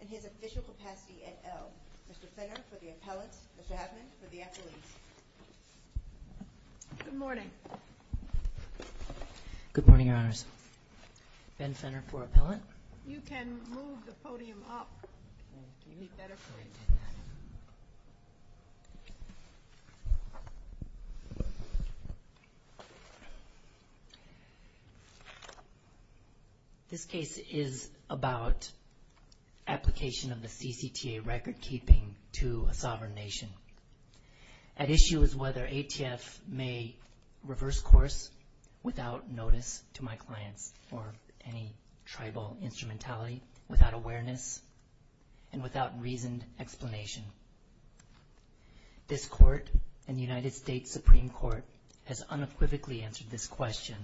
and his official capacity at Ell. Mr. Fenner for the appellant, Mr. Abman for the appellate. Good morning. Good morning, Your Honors. Ben Fenner for appellant. You can move the podium up. This case is about application of the CCTA recordkeeping to a sovereign nation. At issue is whether ATF may reverse course without notice to my clients or any tribal instrumentality, without awareness and without reasoned explanation. This Court and the United States Supreme Court has unequivocally answered this question.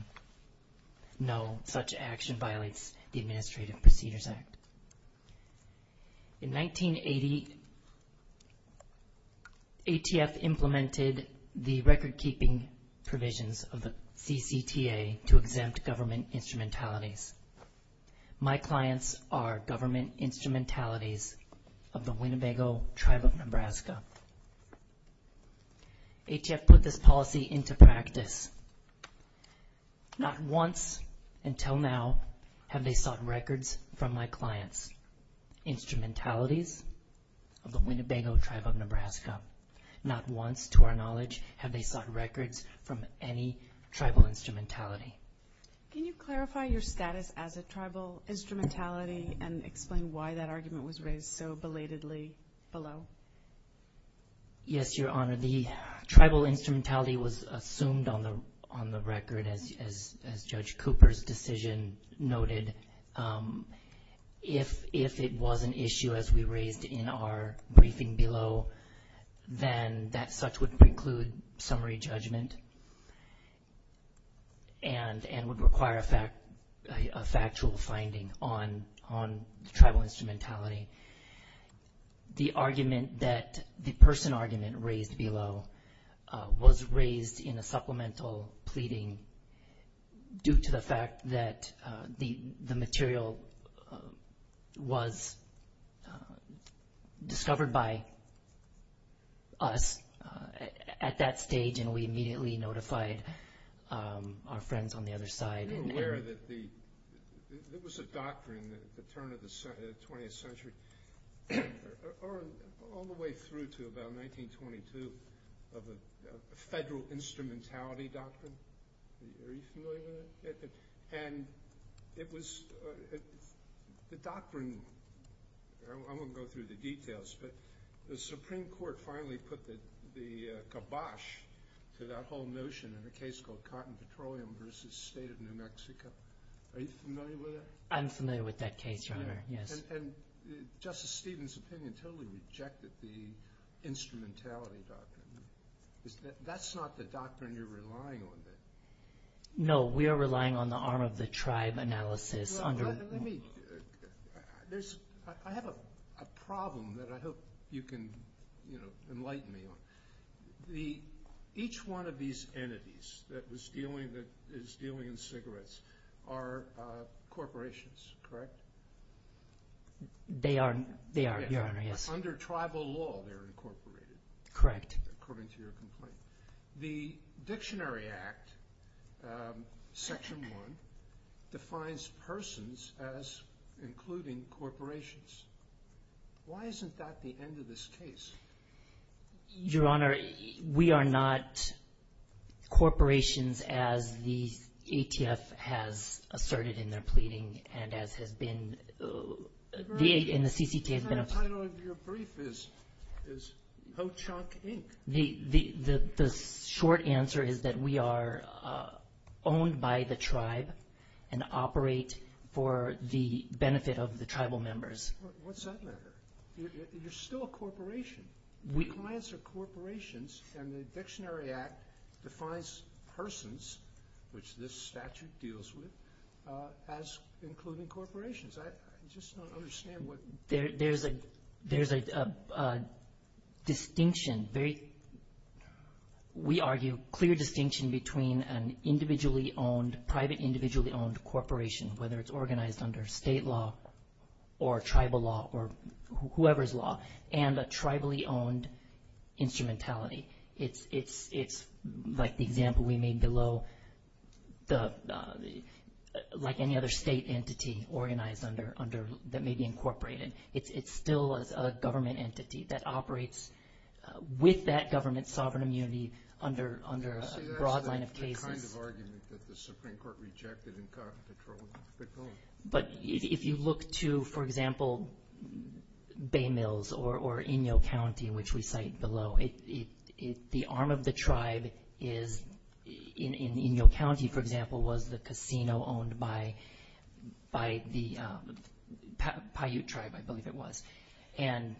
No, such action violates the Administrative Procedures Act. In 1980, ATF implemented the recordkeeping provisions of the CCTA to exempt government instrumentalities. My clients are government instrumentalities of the Winnebago Tribe of Nebraska. ATF put this policy into practice. Not once until now have they sought records from my clients' instrumentalities of the Winnebago Tribe of Nebraska. Not once, to our knowledge, have they sought records from any tribal instrumentality. Can you clarify your status as a tribal instrumentality and explain why that argument was raised so belatedly below? Yes, Your Honor. The tribal instrumentality was assumed on the record, as Judge Cooper's decision noted. If it was an issue, as we raised in our briefing below, then that such would preclude summary judgment and would require a factual finding on tribal instrumentality. The person argument raised below was raised in a supplemental pleading due to the fact that the material was discovered by us at that stage and we immediately notified our friends on the other side. Are you aware that there was a doctrine at the turn of the 20th century, or all the way through to about 1922, of a federal instrumentality doctrine? Are you familiar with that? I won't go through the details, but the Supreme Court finally put the kibosh to that whole notion in a case called Cotton Petroleum v. State of New Mexico. Are you familiar with that? I'm familiar with that case, Your Honor, yes. And Justice Stevens' opinion totally rejected the instrumentality doctrine. That's not the doctrine you're relying on. No, we are relying on the arm of the tribe analysis. I have a problem that I hope you can enlighten me on. Each one of these entities that is dealing in cigarettes are corporations, correct? They are, Your Honor, yes. Under tribal law, they're incorporated. Correct. According to your complaint. The Dictionary Act, Section 1, defines persons as including corporations. Why isn't that the end of this case? Your Honor, we are not corporations as the ATF has asserted in their pleading and as has been in the CCTA. The title of your brief is Ho-Chunk, Inc. The short answer is that we are owned by the tribe and operate for the benefit of the tribal members. What's that matter? You're still a corporation. Clients are corporations, and the Dictionary Act defines persons, which this statute deals with, as including corporations. There's a distinction. We argue a clear distinction between an individually owned, private individually owned corporation, whether it's organized under state law or tribal law or whoever's law, and a tribally owned instrumentality. It's like the example we made below, like any other state entity that may be incorporated. It's still a government entity that operates with that government's sovereign immunity under a broad line of cases. That's the kind of argument that the Supreme Court rejected in Congress. But if you look to, for example, Bay Mills or Inyo County, which we cite below, the arm of the tribe in Inyo County, for example, was the casino owned by the Paiute tribe, I believe it was. And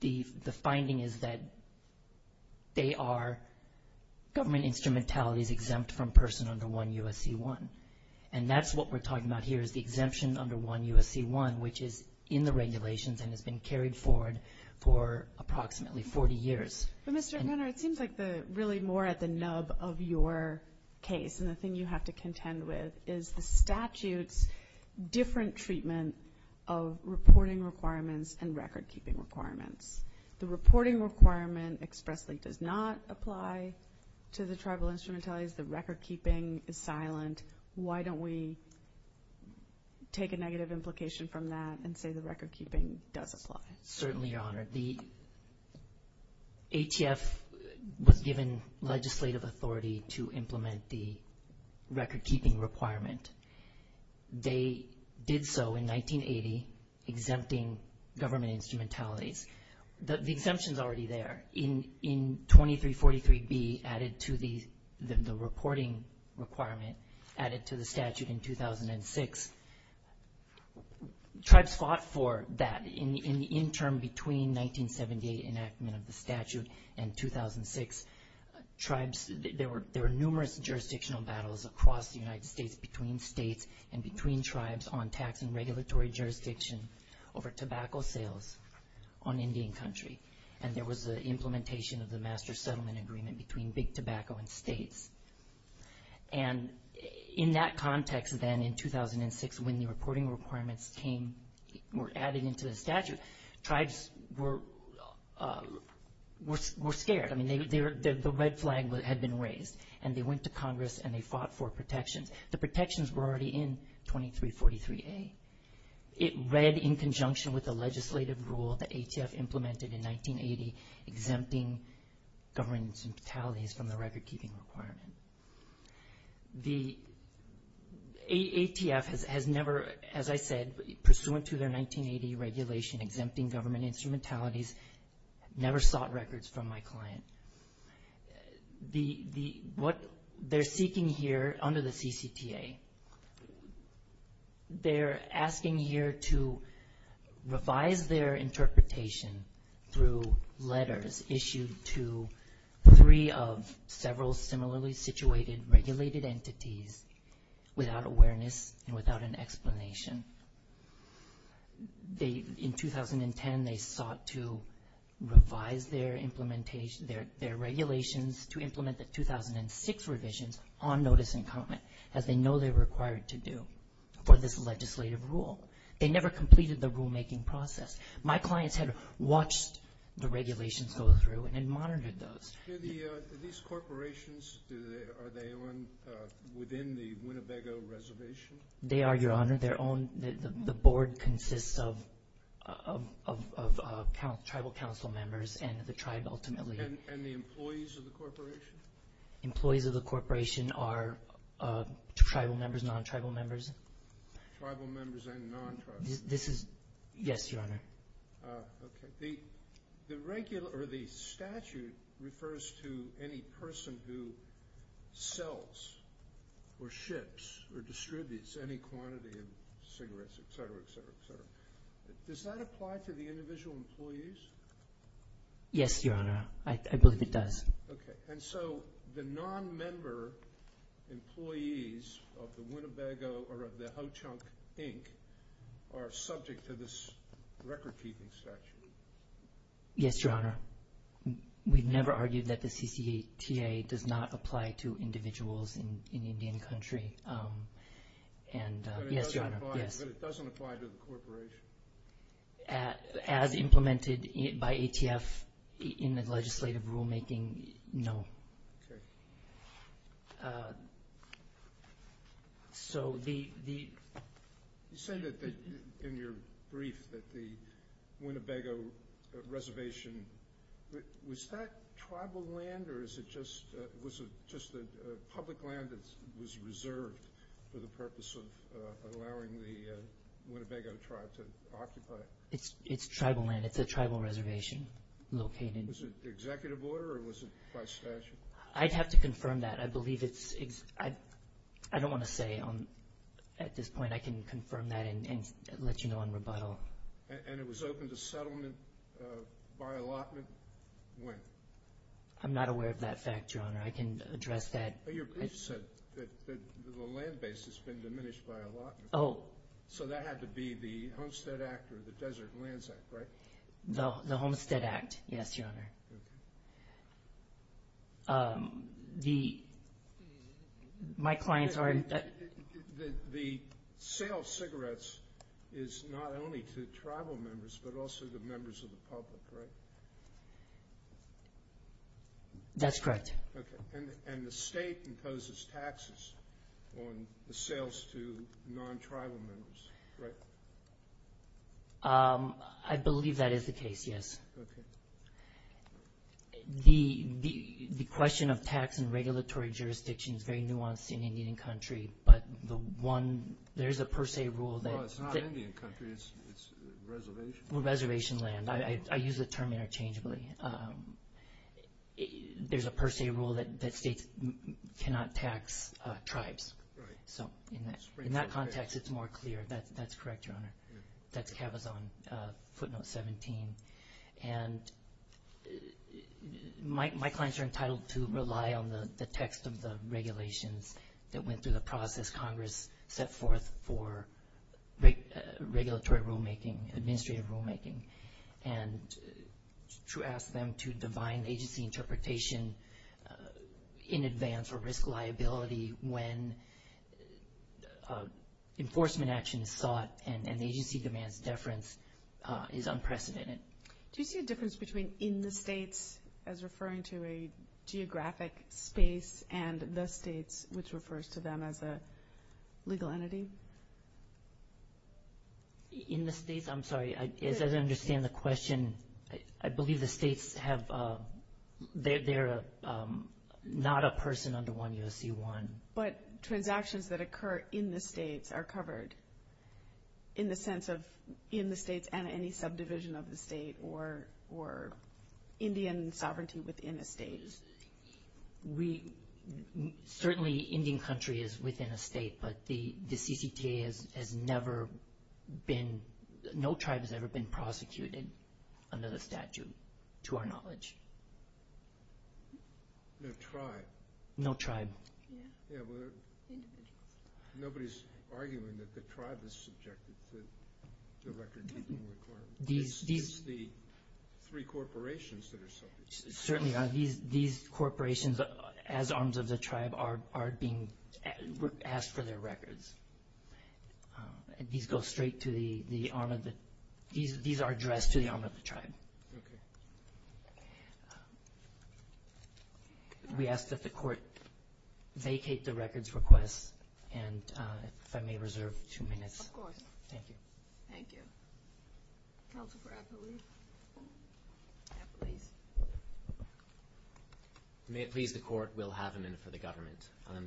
the finding is that they are government instrumentalities exempt from person under 1 U.S.C. 1. And that's what we're talking about here is the exemption under 1 U.S.C. 1, which is in the regulations and has been carried forward for approximately 40 years. But, Mr. O'Connor, it seems like really more at the nub of your case, and the thing you have to contend with is the statute's different treatment of reporting requirements and record keeping requirements. The reporting requirement expressly does not apply to the tribal instrumentalities. The record keeping is silent. Why don't we take a negative implication from that and say the record keeping does apply? Certainly, Your Honor. The ATF was given legislative authority to implement the record keeping requirement. They did so in 1980, exempting government instrumentalities. The exemption's already there. In 2343B, added to the reporting requirement, added to the statute in 2006, tribes fought for that in the interim between 1978 enactment of the statute and 2006. There were numerous jurisdictional battles across the United States between states and between tribes on tax and regulatory jurisdiction over tobacco sales on Indian country. And there was the implementation of the master settlement agreement between big tobacco and states. And in that context then in 2006, when the reporting requirements were added into the statute, tribes were scared. I mean, the red flag had been raised, and they went to Congress and they fought for protections. The protections were already in 2343A. It read in conjunction with the legislative rule the ATF implemented in 1980, exempting government instrumentalities from the record keeping requirement. The ATF has never, as I said, pursuant to their 1980 regulation, exempting government instrumentalities, never sought records from my client. What they're seeking here under the CCTA, they're asking here to revise their interpretation through letters issued to three of several similarly situated regulated entities without awareness and without an explanation. In 2010, they sought to revise their regulations to implement the 2006 revisions on notice and comment, as they know they're required to do for this legislative rule. They never completed the rulemaking process. My clients had watched the regulations go through and monitored those. These corporations, are they within the Winnebago Reservation? They are, Your Honor. The board consists of tribal council members and the tribe ultimately. And the employees of the corporation? Employees of the corporation are tribal members, non-tribal members. Tribal members and non-tribal members. Yes, Your Honor. The statute refers to any person who sells or ships or distributes any quantity of cigarettes, etc., etc., etc. Does that apply to the individual employees? Yes, Your Honor. I believe it does. Okay. Are subject to this record-keeping statute? Yes, Your Honor. We've never argued that the CCTA does not apply to individuals in Indian Country. Yes, Your Honor. But it doesn't apply to the corporation? As implemented by ATF in the legislative rulemaking, no. Okay. So the – You said that in your brief that the Winnebago Reservation, was that tribal land or is it just – was it just a public land that was reserved for the purpose of allowing the Winnebago Tribe to occupy it? It's tribal land. It's a tribal reservation located – Was it executive order or was it by statute? I'd have to confirm that. I believe it's – I don't want to say at this point. I can confirm that and let you know on rebuttal. And it was open to settlement by allotment when? I'm not aware of that fact, Your Honor. I can address that. But your brief said that the land base has been diminished by allotment. Oh. So that had to be the Homestead Act or the Desert Lands Act, right? The Homestead Act, yes, Your Honor. Okay. The – my clients are – The sale of cigarettes is not only to tribal members but also to members of the public, right? That's correct. Okay. And the state imposes taxes on the sales to non-tribal members, right? I believe that is the case, yes. Okay. The question of tax and regulatory jurisdiction is very nuanced in Indian country, but the one – there is a per se rule that – No, it's not Indian country. It's reservation land. Well, reservation land. I use the term interchangeably. There's a per se rule that states cannot tax tribes. Right. So in that context, it's more clear. That's correct, Your Honor. That's Cabazon footnote 17. And my clients are entitled to rely on the text of the regulations that went through the process Congress set forth for regulatory rulemaking, administrative rulemaking, and to ask them to divine agency interpretation in advance or risk liability when enforcement action is sought and agency demands deference is unprecedented. Do you see a difference between in the states as referring to a geographic space and the states, which refers to them as a legal entity? In the states? I'm sorry. As I understand the question, I believe the states have – they're not a person under 1 U.S.C. 1. But transactions that occur in the states are covered in the sense of in the states and any subdivision of the state or Indian sovereignty within a state. Certainly Indian country is within a state, but the CCTA has never been – to our knowledge. No tribe? No tribe. Yeah. Yeah, but nobody's arguing that the tribe is subjected to the record-keeping requirements. It's the three corporations that are subject. Certainly not. These corporations, as arms of the tribe, are being asked for their records. These go straight to the arm of the – these are addressed to the arm of the tribe. Okay. We ask that the court vacate the records request, and if I may reserve two minutes. Of course. Thank you. Thank you. Counsel for Appleby. Yeah, please. May it please the court, we'll have a minute for the government.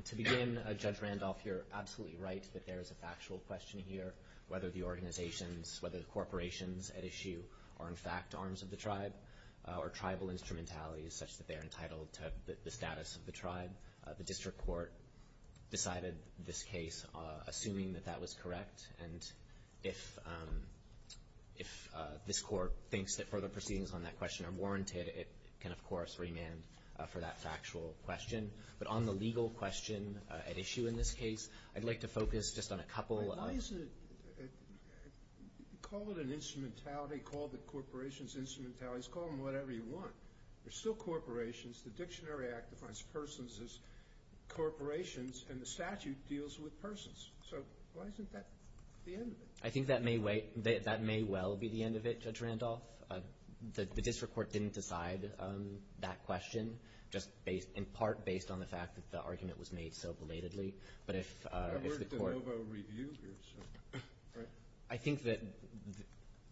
To begin, Judge Randolph, you're absolutely right that there is a factual question here, whether the organizations, whether the corporations at issue are, in fact, arms of the tribe or tribal instrumentalities such that they are entitled to the status of the tribe. The district court decided this case assuming that that was correct, and if this court thinks that further proceedings on that question are warranted, it can, of course, remand for that factual question. But on the legal question at issue in this case, I'd like to focus just on a couple of – Why isn't it – call it an instrumentality, call the corporations instrumentalities, call them whatever you want. They're still corporations. The Dictionary Act defines persons as corporations, and the statute deals with persons. So why isn't that the end of it? I think that may well be the end of it, Judge Randolph. The district court didn't decide that question, just in part based on the fact that the argument was made so belatedly. But if the court – I've worked at Novo Review. I think that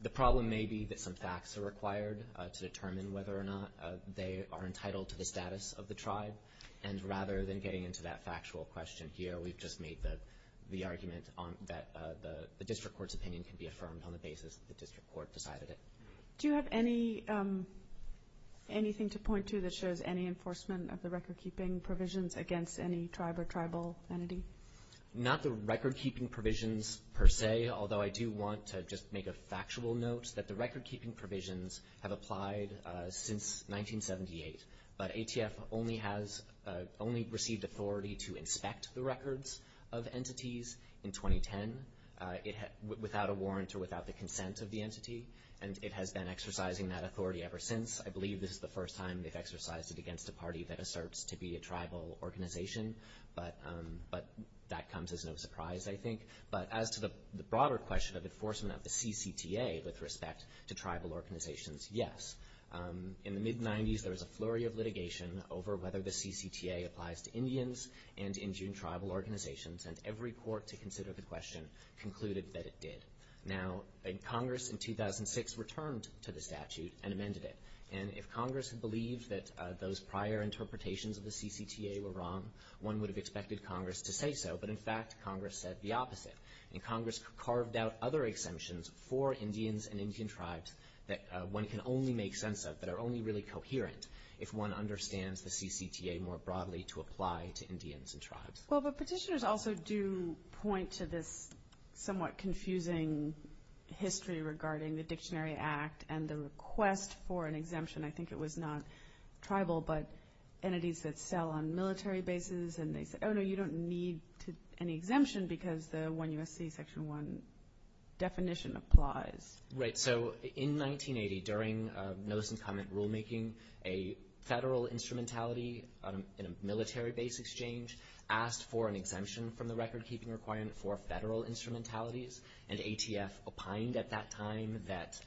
the problem may be that some facts are required to determine whether or not they are entitled to the status of the tribe. And rather than getting into that factual question here, we've just made the argument that the district court's opinion can be affirmed on the basis that the district court decided it. Do you have anything to point to that shows any enforcement of the record-keeping provisions against any tribe or tribal entity? Not the record-keeping provisions per se, although I do want to just make a factual note that the record-keeping provisions have applied since 1978. But ATF only has – only received authority to inspect the records of entities in 2010, without a warrant or without the consent of the entity, and it has been exercising that authority ever since. I believe this is the first time they've exercised it against a party that asserts to be a tribal organization, but that comes as no surprise, I think. But as to the broader question of enforcement of the CCTA with respect to tribal organizations, yes. In the mid-'90s, there was a flurry of litigation over whether the CCTA applies to Indians and Indian tribal organizations, and every court to consider the question concluded that it did. Now, Congress in 2006 returned to the statute and amended it, and if Congress had believed that those prior interpretations of the CCTA were wrong, one would have expected Congress to say so. But in fact, Congress said the opposite, and Congress carved out other exemptions for Indians and Indian tribes that one can only make sense of, that are only really coherent if one understands the CCTA more broadly to apply to Indians and tribes. Well, but petitioners also do point to this somewhat confusing history regarding the Dictionary Act and the request for an exemption. I think it was not tribal, but entities that sell on military bases, and they said, oh, no, you don't need an exemption because the 1 U.S.C. Section 1 definition applies. Right, so in 1980, during notice and comment rulemaking, a federal instrumentality in a military base exchange asked for an exemption from the recordkeeping requirement for federal instrumentalities, and ATF opined at that time that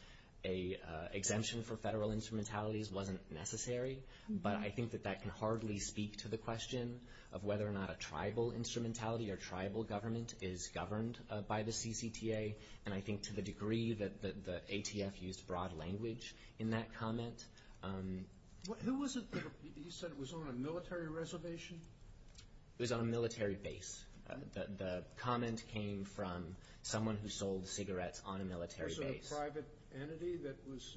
an exemption for federal instrumentalities wasn't necessary. But I think that that can hardly speak to the question of whether or not a tribal instrumentality or tribal government is governed by the CCTA. And I think to the degree that the ATF used broad language in that comment. Who was it that said it was on a military reservation? It was on a military base. The comment came from someone who sold cigarettes on a military base. Was it a private entity that was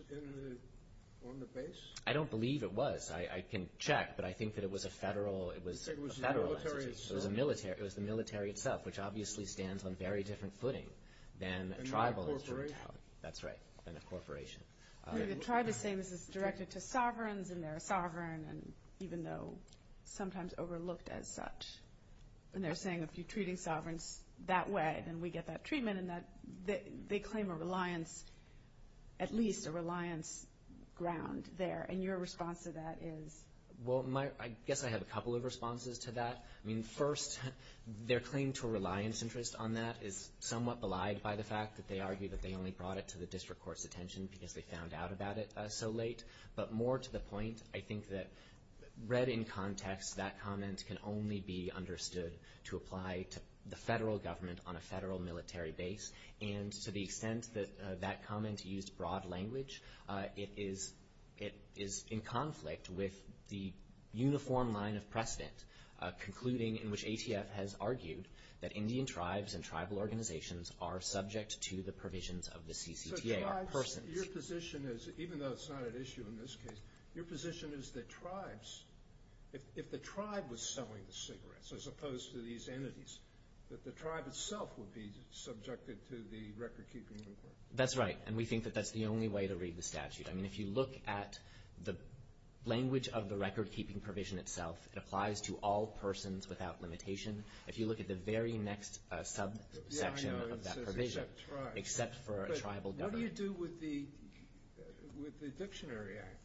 on the base? I don't believe it was. I can check, but I think that it was a federal entity. It was the military itself. Which obviously stands on a very different footing than a tribal instrumentality. Than a corporation? That's right, than a corporation. The tribe is saying this is directed to sovereigns, and they're a sovereign, even though sometimes overlooked as such. And they're saying if you're treating sovereigns that way, then we get that treatment. And they claim a reliance, at least a reliance ground there. And your response to that is? Well, I guess I have a couple of responses to that. I mean, first, their claim to a reliance interest on that is somewhat belied by the fact that they argue that they only brought it to the district court's attention because they found out about it so late. But more to the point, I think that read in context, that comment can only be understood to apply to the federal government on a federal military base. And to the extent that that comment used broad language, it is in conflict with the uniform line of precedent, concluding in which ATF has argued that Indian tribes and tribal organizations are subject to the provisions of the CCTA. So tribes, your position is, even though it's not at issue in this case, your position is that tribes, if the tribe was selling the cigarettes as opposed to these entities, that the tribe itself would be subjected to the record-keeping inquiry. That's right. And we think that that's the only way to read the statute. I mean, if you look at the language of the record-keeping provision itself, it applies to all persons without limitation. If you look at the very next subsection of that provision, except for a tribal government. What do you do with the Dictionary Act?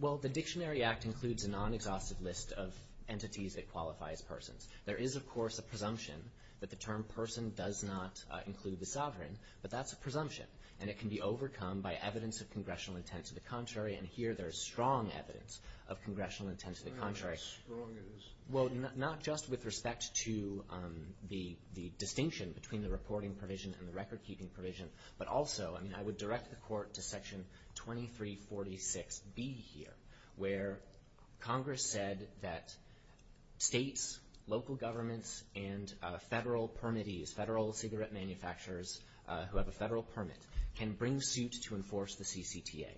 Well, the Dictionary Act includes a non-exhaustive list of entities that qualify as persons. There is, of course, a presumption that the term person does not include the sovereign, but that's a presumption, and it can be overcome by evidence of congressional intent to the contrary, and here there's strong evidence of congressional intent to the contrary. How strong is it? Well, not just with respect to the distinction between the reporting provision and the record-keeping provision, but also, I mean, I would direct the Court to Section 2346B here, where Congress said that states, local governments, and federal permittees, federal cigarette manufacturers who have a federal permit, can bring suit to enforce the CCTA.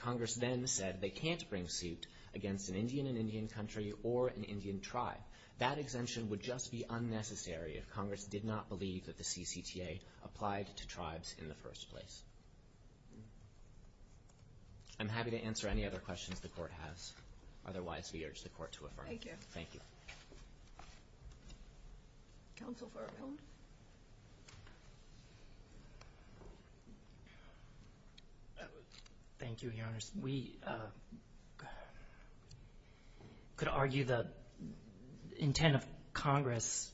Congress then said they can't bring suit against an Indian and Indian country or an Indian tribe. That exemption would just be unnecessary if Congress did not believe that the CCTA applied to tribes in the first place. I'm happy to answer any other questions the Court has. Otherwise, we urge the Court to affirm. Thank you. Thank you. Counsel Farrell? Thank you, Your Honors. We could argue the intent of Congress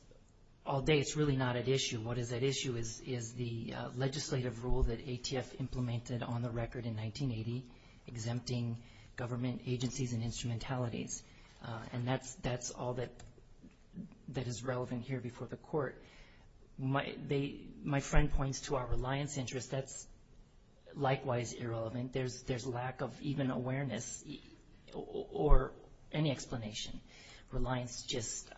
all day. It's really not at issue. What is at issue is the legislative rule that ATF implemented on the record in 1980, exempting government agencies and instrumentalities. And that's all that is relevant here before the Court. My friend points to our reliance interest. That's likewise irrelevant. There's lack of even awareness or any explanation. Reliance just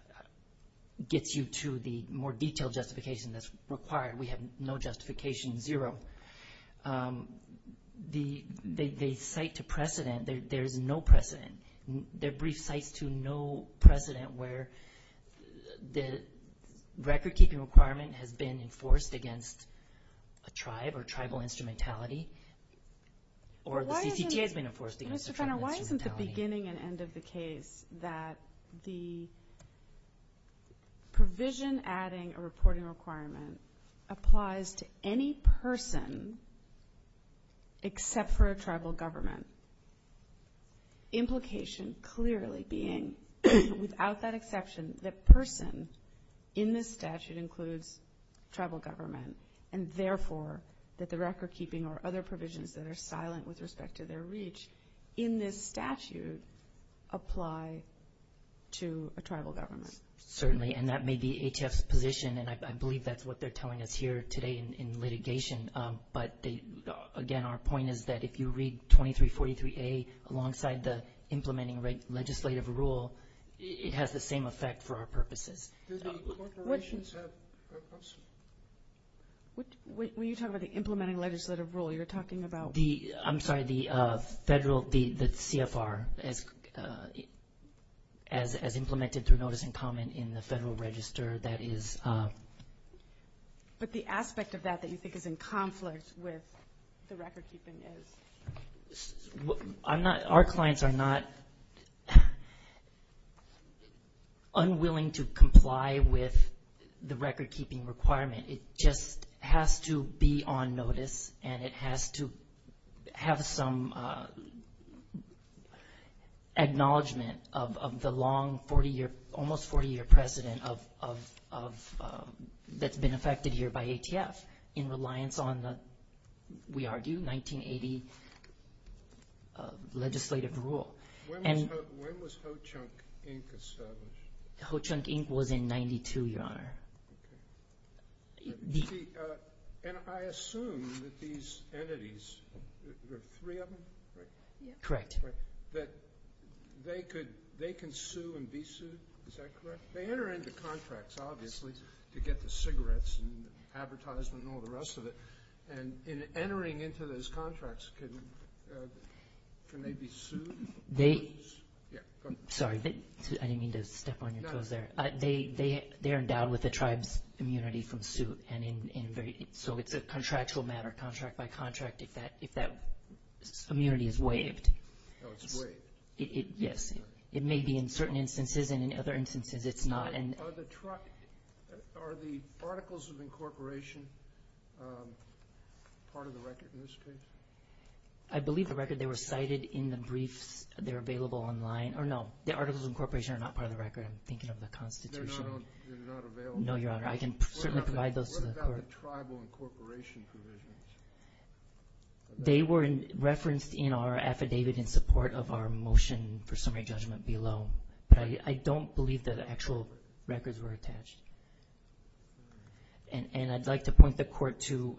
gets you to the more detailed justification that's required. We have no justification, zero. The site to precedent, there is no precedent. There are brief sites to no precedent where the record-keeping requirement has been enforced against a tribe or tribal instrumentality, or the CCTA has been enforced against a tribe instrumentality. Mr. Fenner, why isn't the beginning and end of the case that the provision adding a reporting requirement applies to any person except for a tribal government, implication clearly being, without that exception, that person in this statute includes tribal government, and therefore that the record-keeping or other provisions that are silent with respect to their reach in this statute apply to a tribal government? Certainly. And that may be ATF's position, and I believe that's what they're telling us here today in litigation. But, again, our point is that if you read 2343A alongside the implementing legislative rule, it has the same effect for our purposes. Do the corporations have a purpose? When you talk about the implementing legislative rule, you're talking about? I'm sorry, the CFR as implemented through notice and comment in the federal register that is? But the aspect of that that you think is in conflict with the record-keeping is? Our clients are not unwilling to comply with the record-keeping requirement. It just has to be on notice, and it has to have some acknowledgement of the long, almost 40-year precedent that's been affected here by ATF in reliance on the, we argue, 1980 legislative rule. When was Ho-Chunk, Inc. established? Ho-Chunk, Inc. was in 92, Your Honor. And I assume that these entities, there are three of them, right? Correct. That they can sue and be sued, is that correct? They enter into contracts, obviously, to get the cigarettes and advertisement and all the rest of it, and in entering into those contracts, can they be sued? Sorry, I didn't mean to step on your toes there. They're endowed with the tribe's immunity from suit, and so it's a contractual matter, contract by contract, if that immunity is waived. Oh, it's waived? Yes. It may be in certain instances, and in other instances it's not. Are the articles of incorporation part of the record in this case? I believe the record, they were cited in the briefs, they're available online. No, the articles of incorporation are not part of the record. I'm thinking of the Constitution. They're not available? No, Your Honor. I can certainly provide those to the court. What about the tribal incorporation provisions? They were referenced in our affidavit in support of our motion for summary judgment below, but I don't believe that actual records were attached. And I'd like to point the court to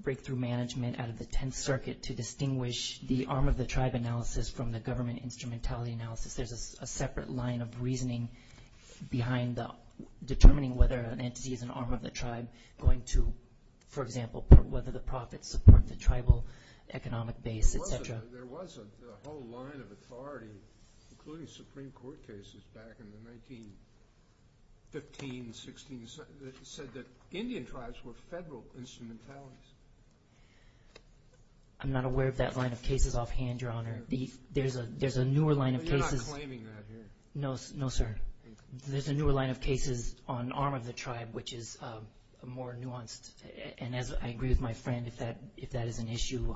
breakthrough management out of the Tenth Circuit to distinguish the arm of the tribe analysis from the government instrumentality analysis. There's a separate line of reasoning behind determining whether an entity is an arm of the tribe going to, for example, whether the profits support the tribal economic base, et cetera. There was a whole line of authority, including Supreme Court cases back in the 1915, 16, that said that Indian tribes were federal instrumentalities. I'm not aware of that line of cases offhand, Your Honor. There's a newer line of cases. You're not claiming that here. No, sir. There's a newer line of cases on arm of the tribe, which is more nuanced. And I agree with my friend, if that is an issue,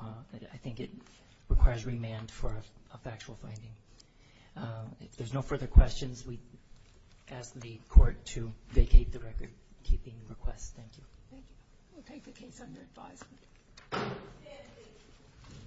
I think it requires remand for a factual finding. If there's no further questions, we ask the court to vacate the record-keeping request. Thank you. Thank you. We'll take the case under advisement.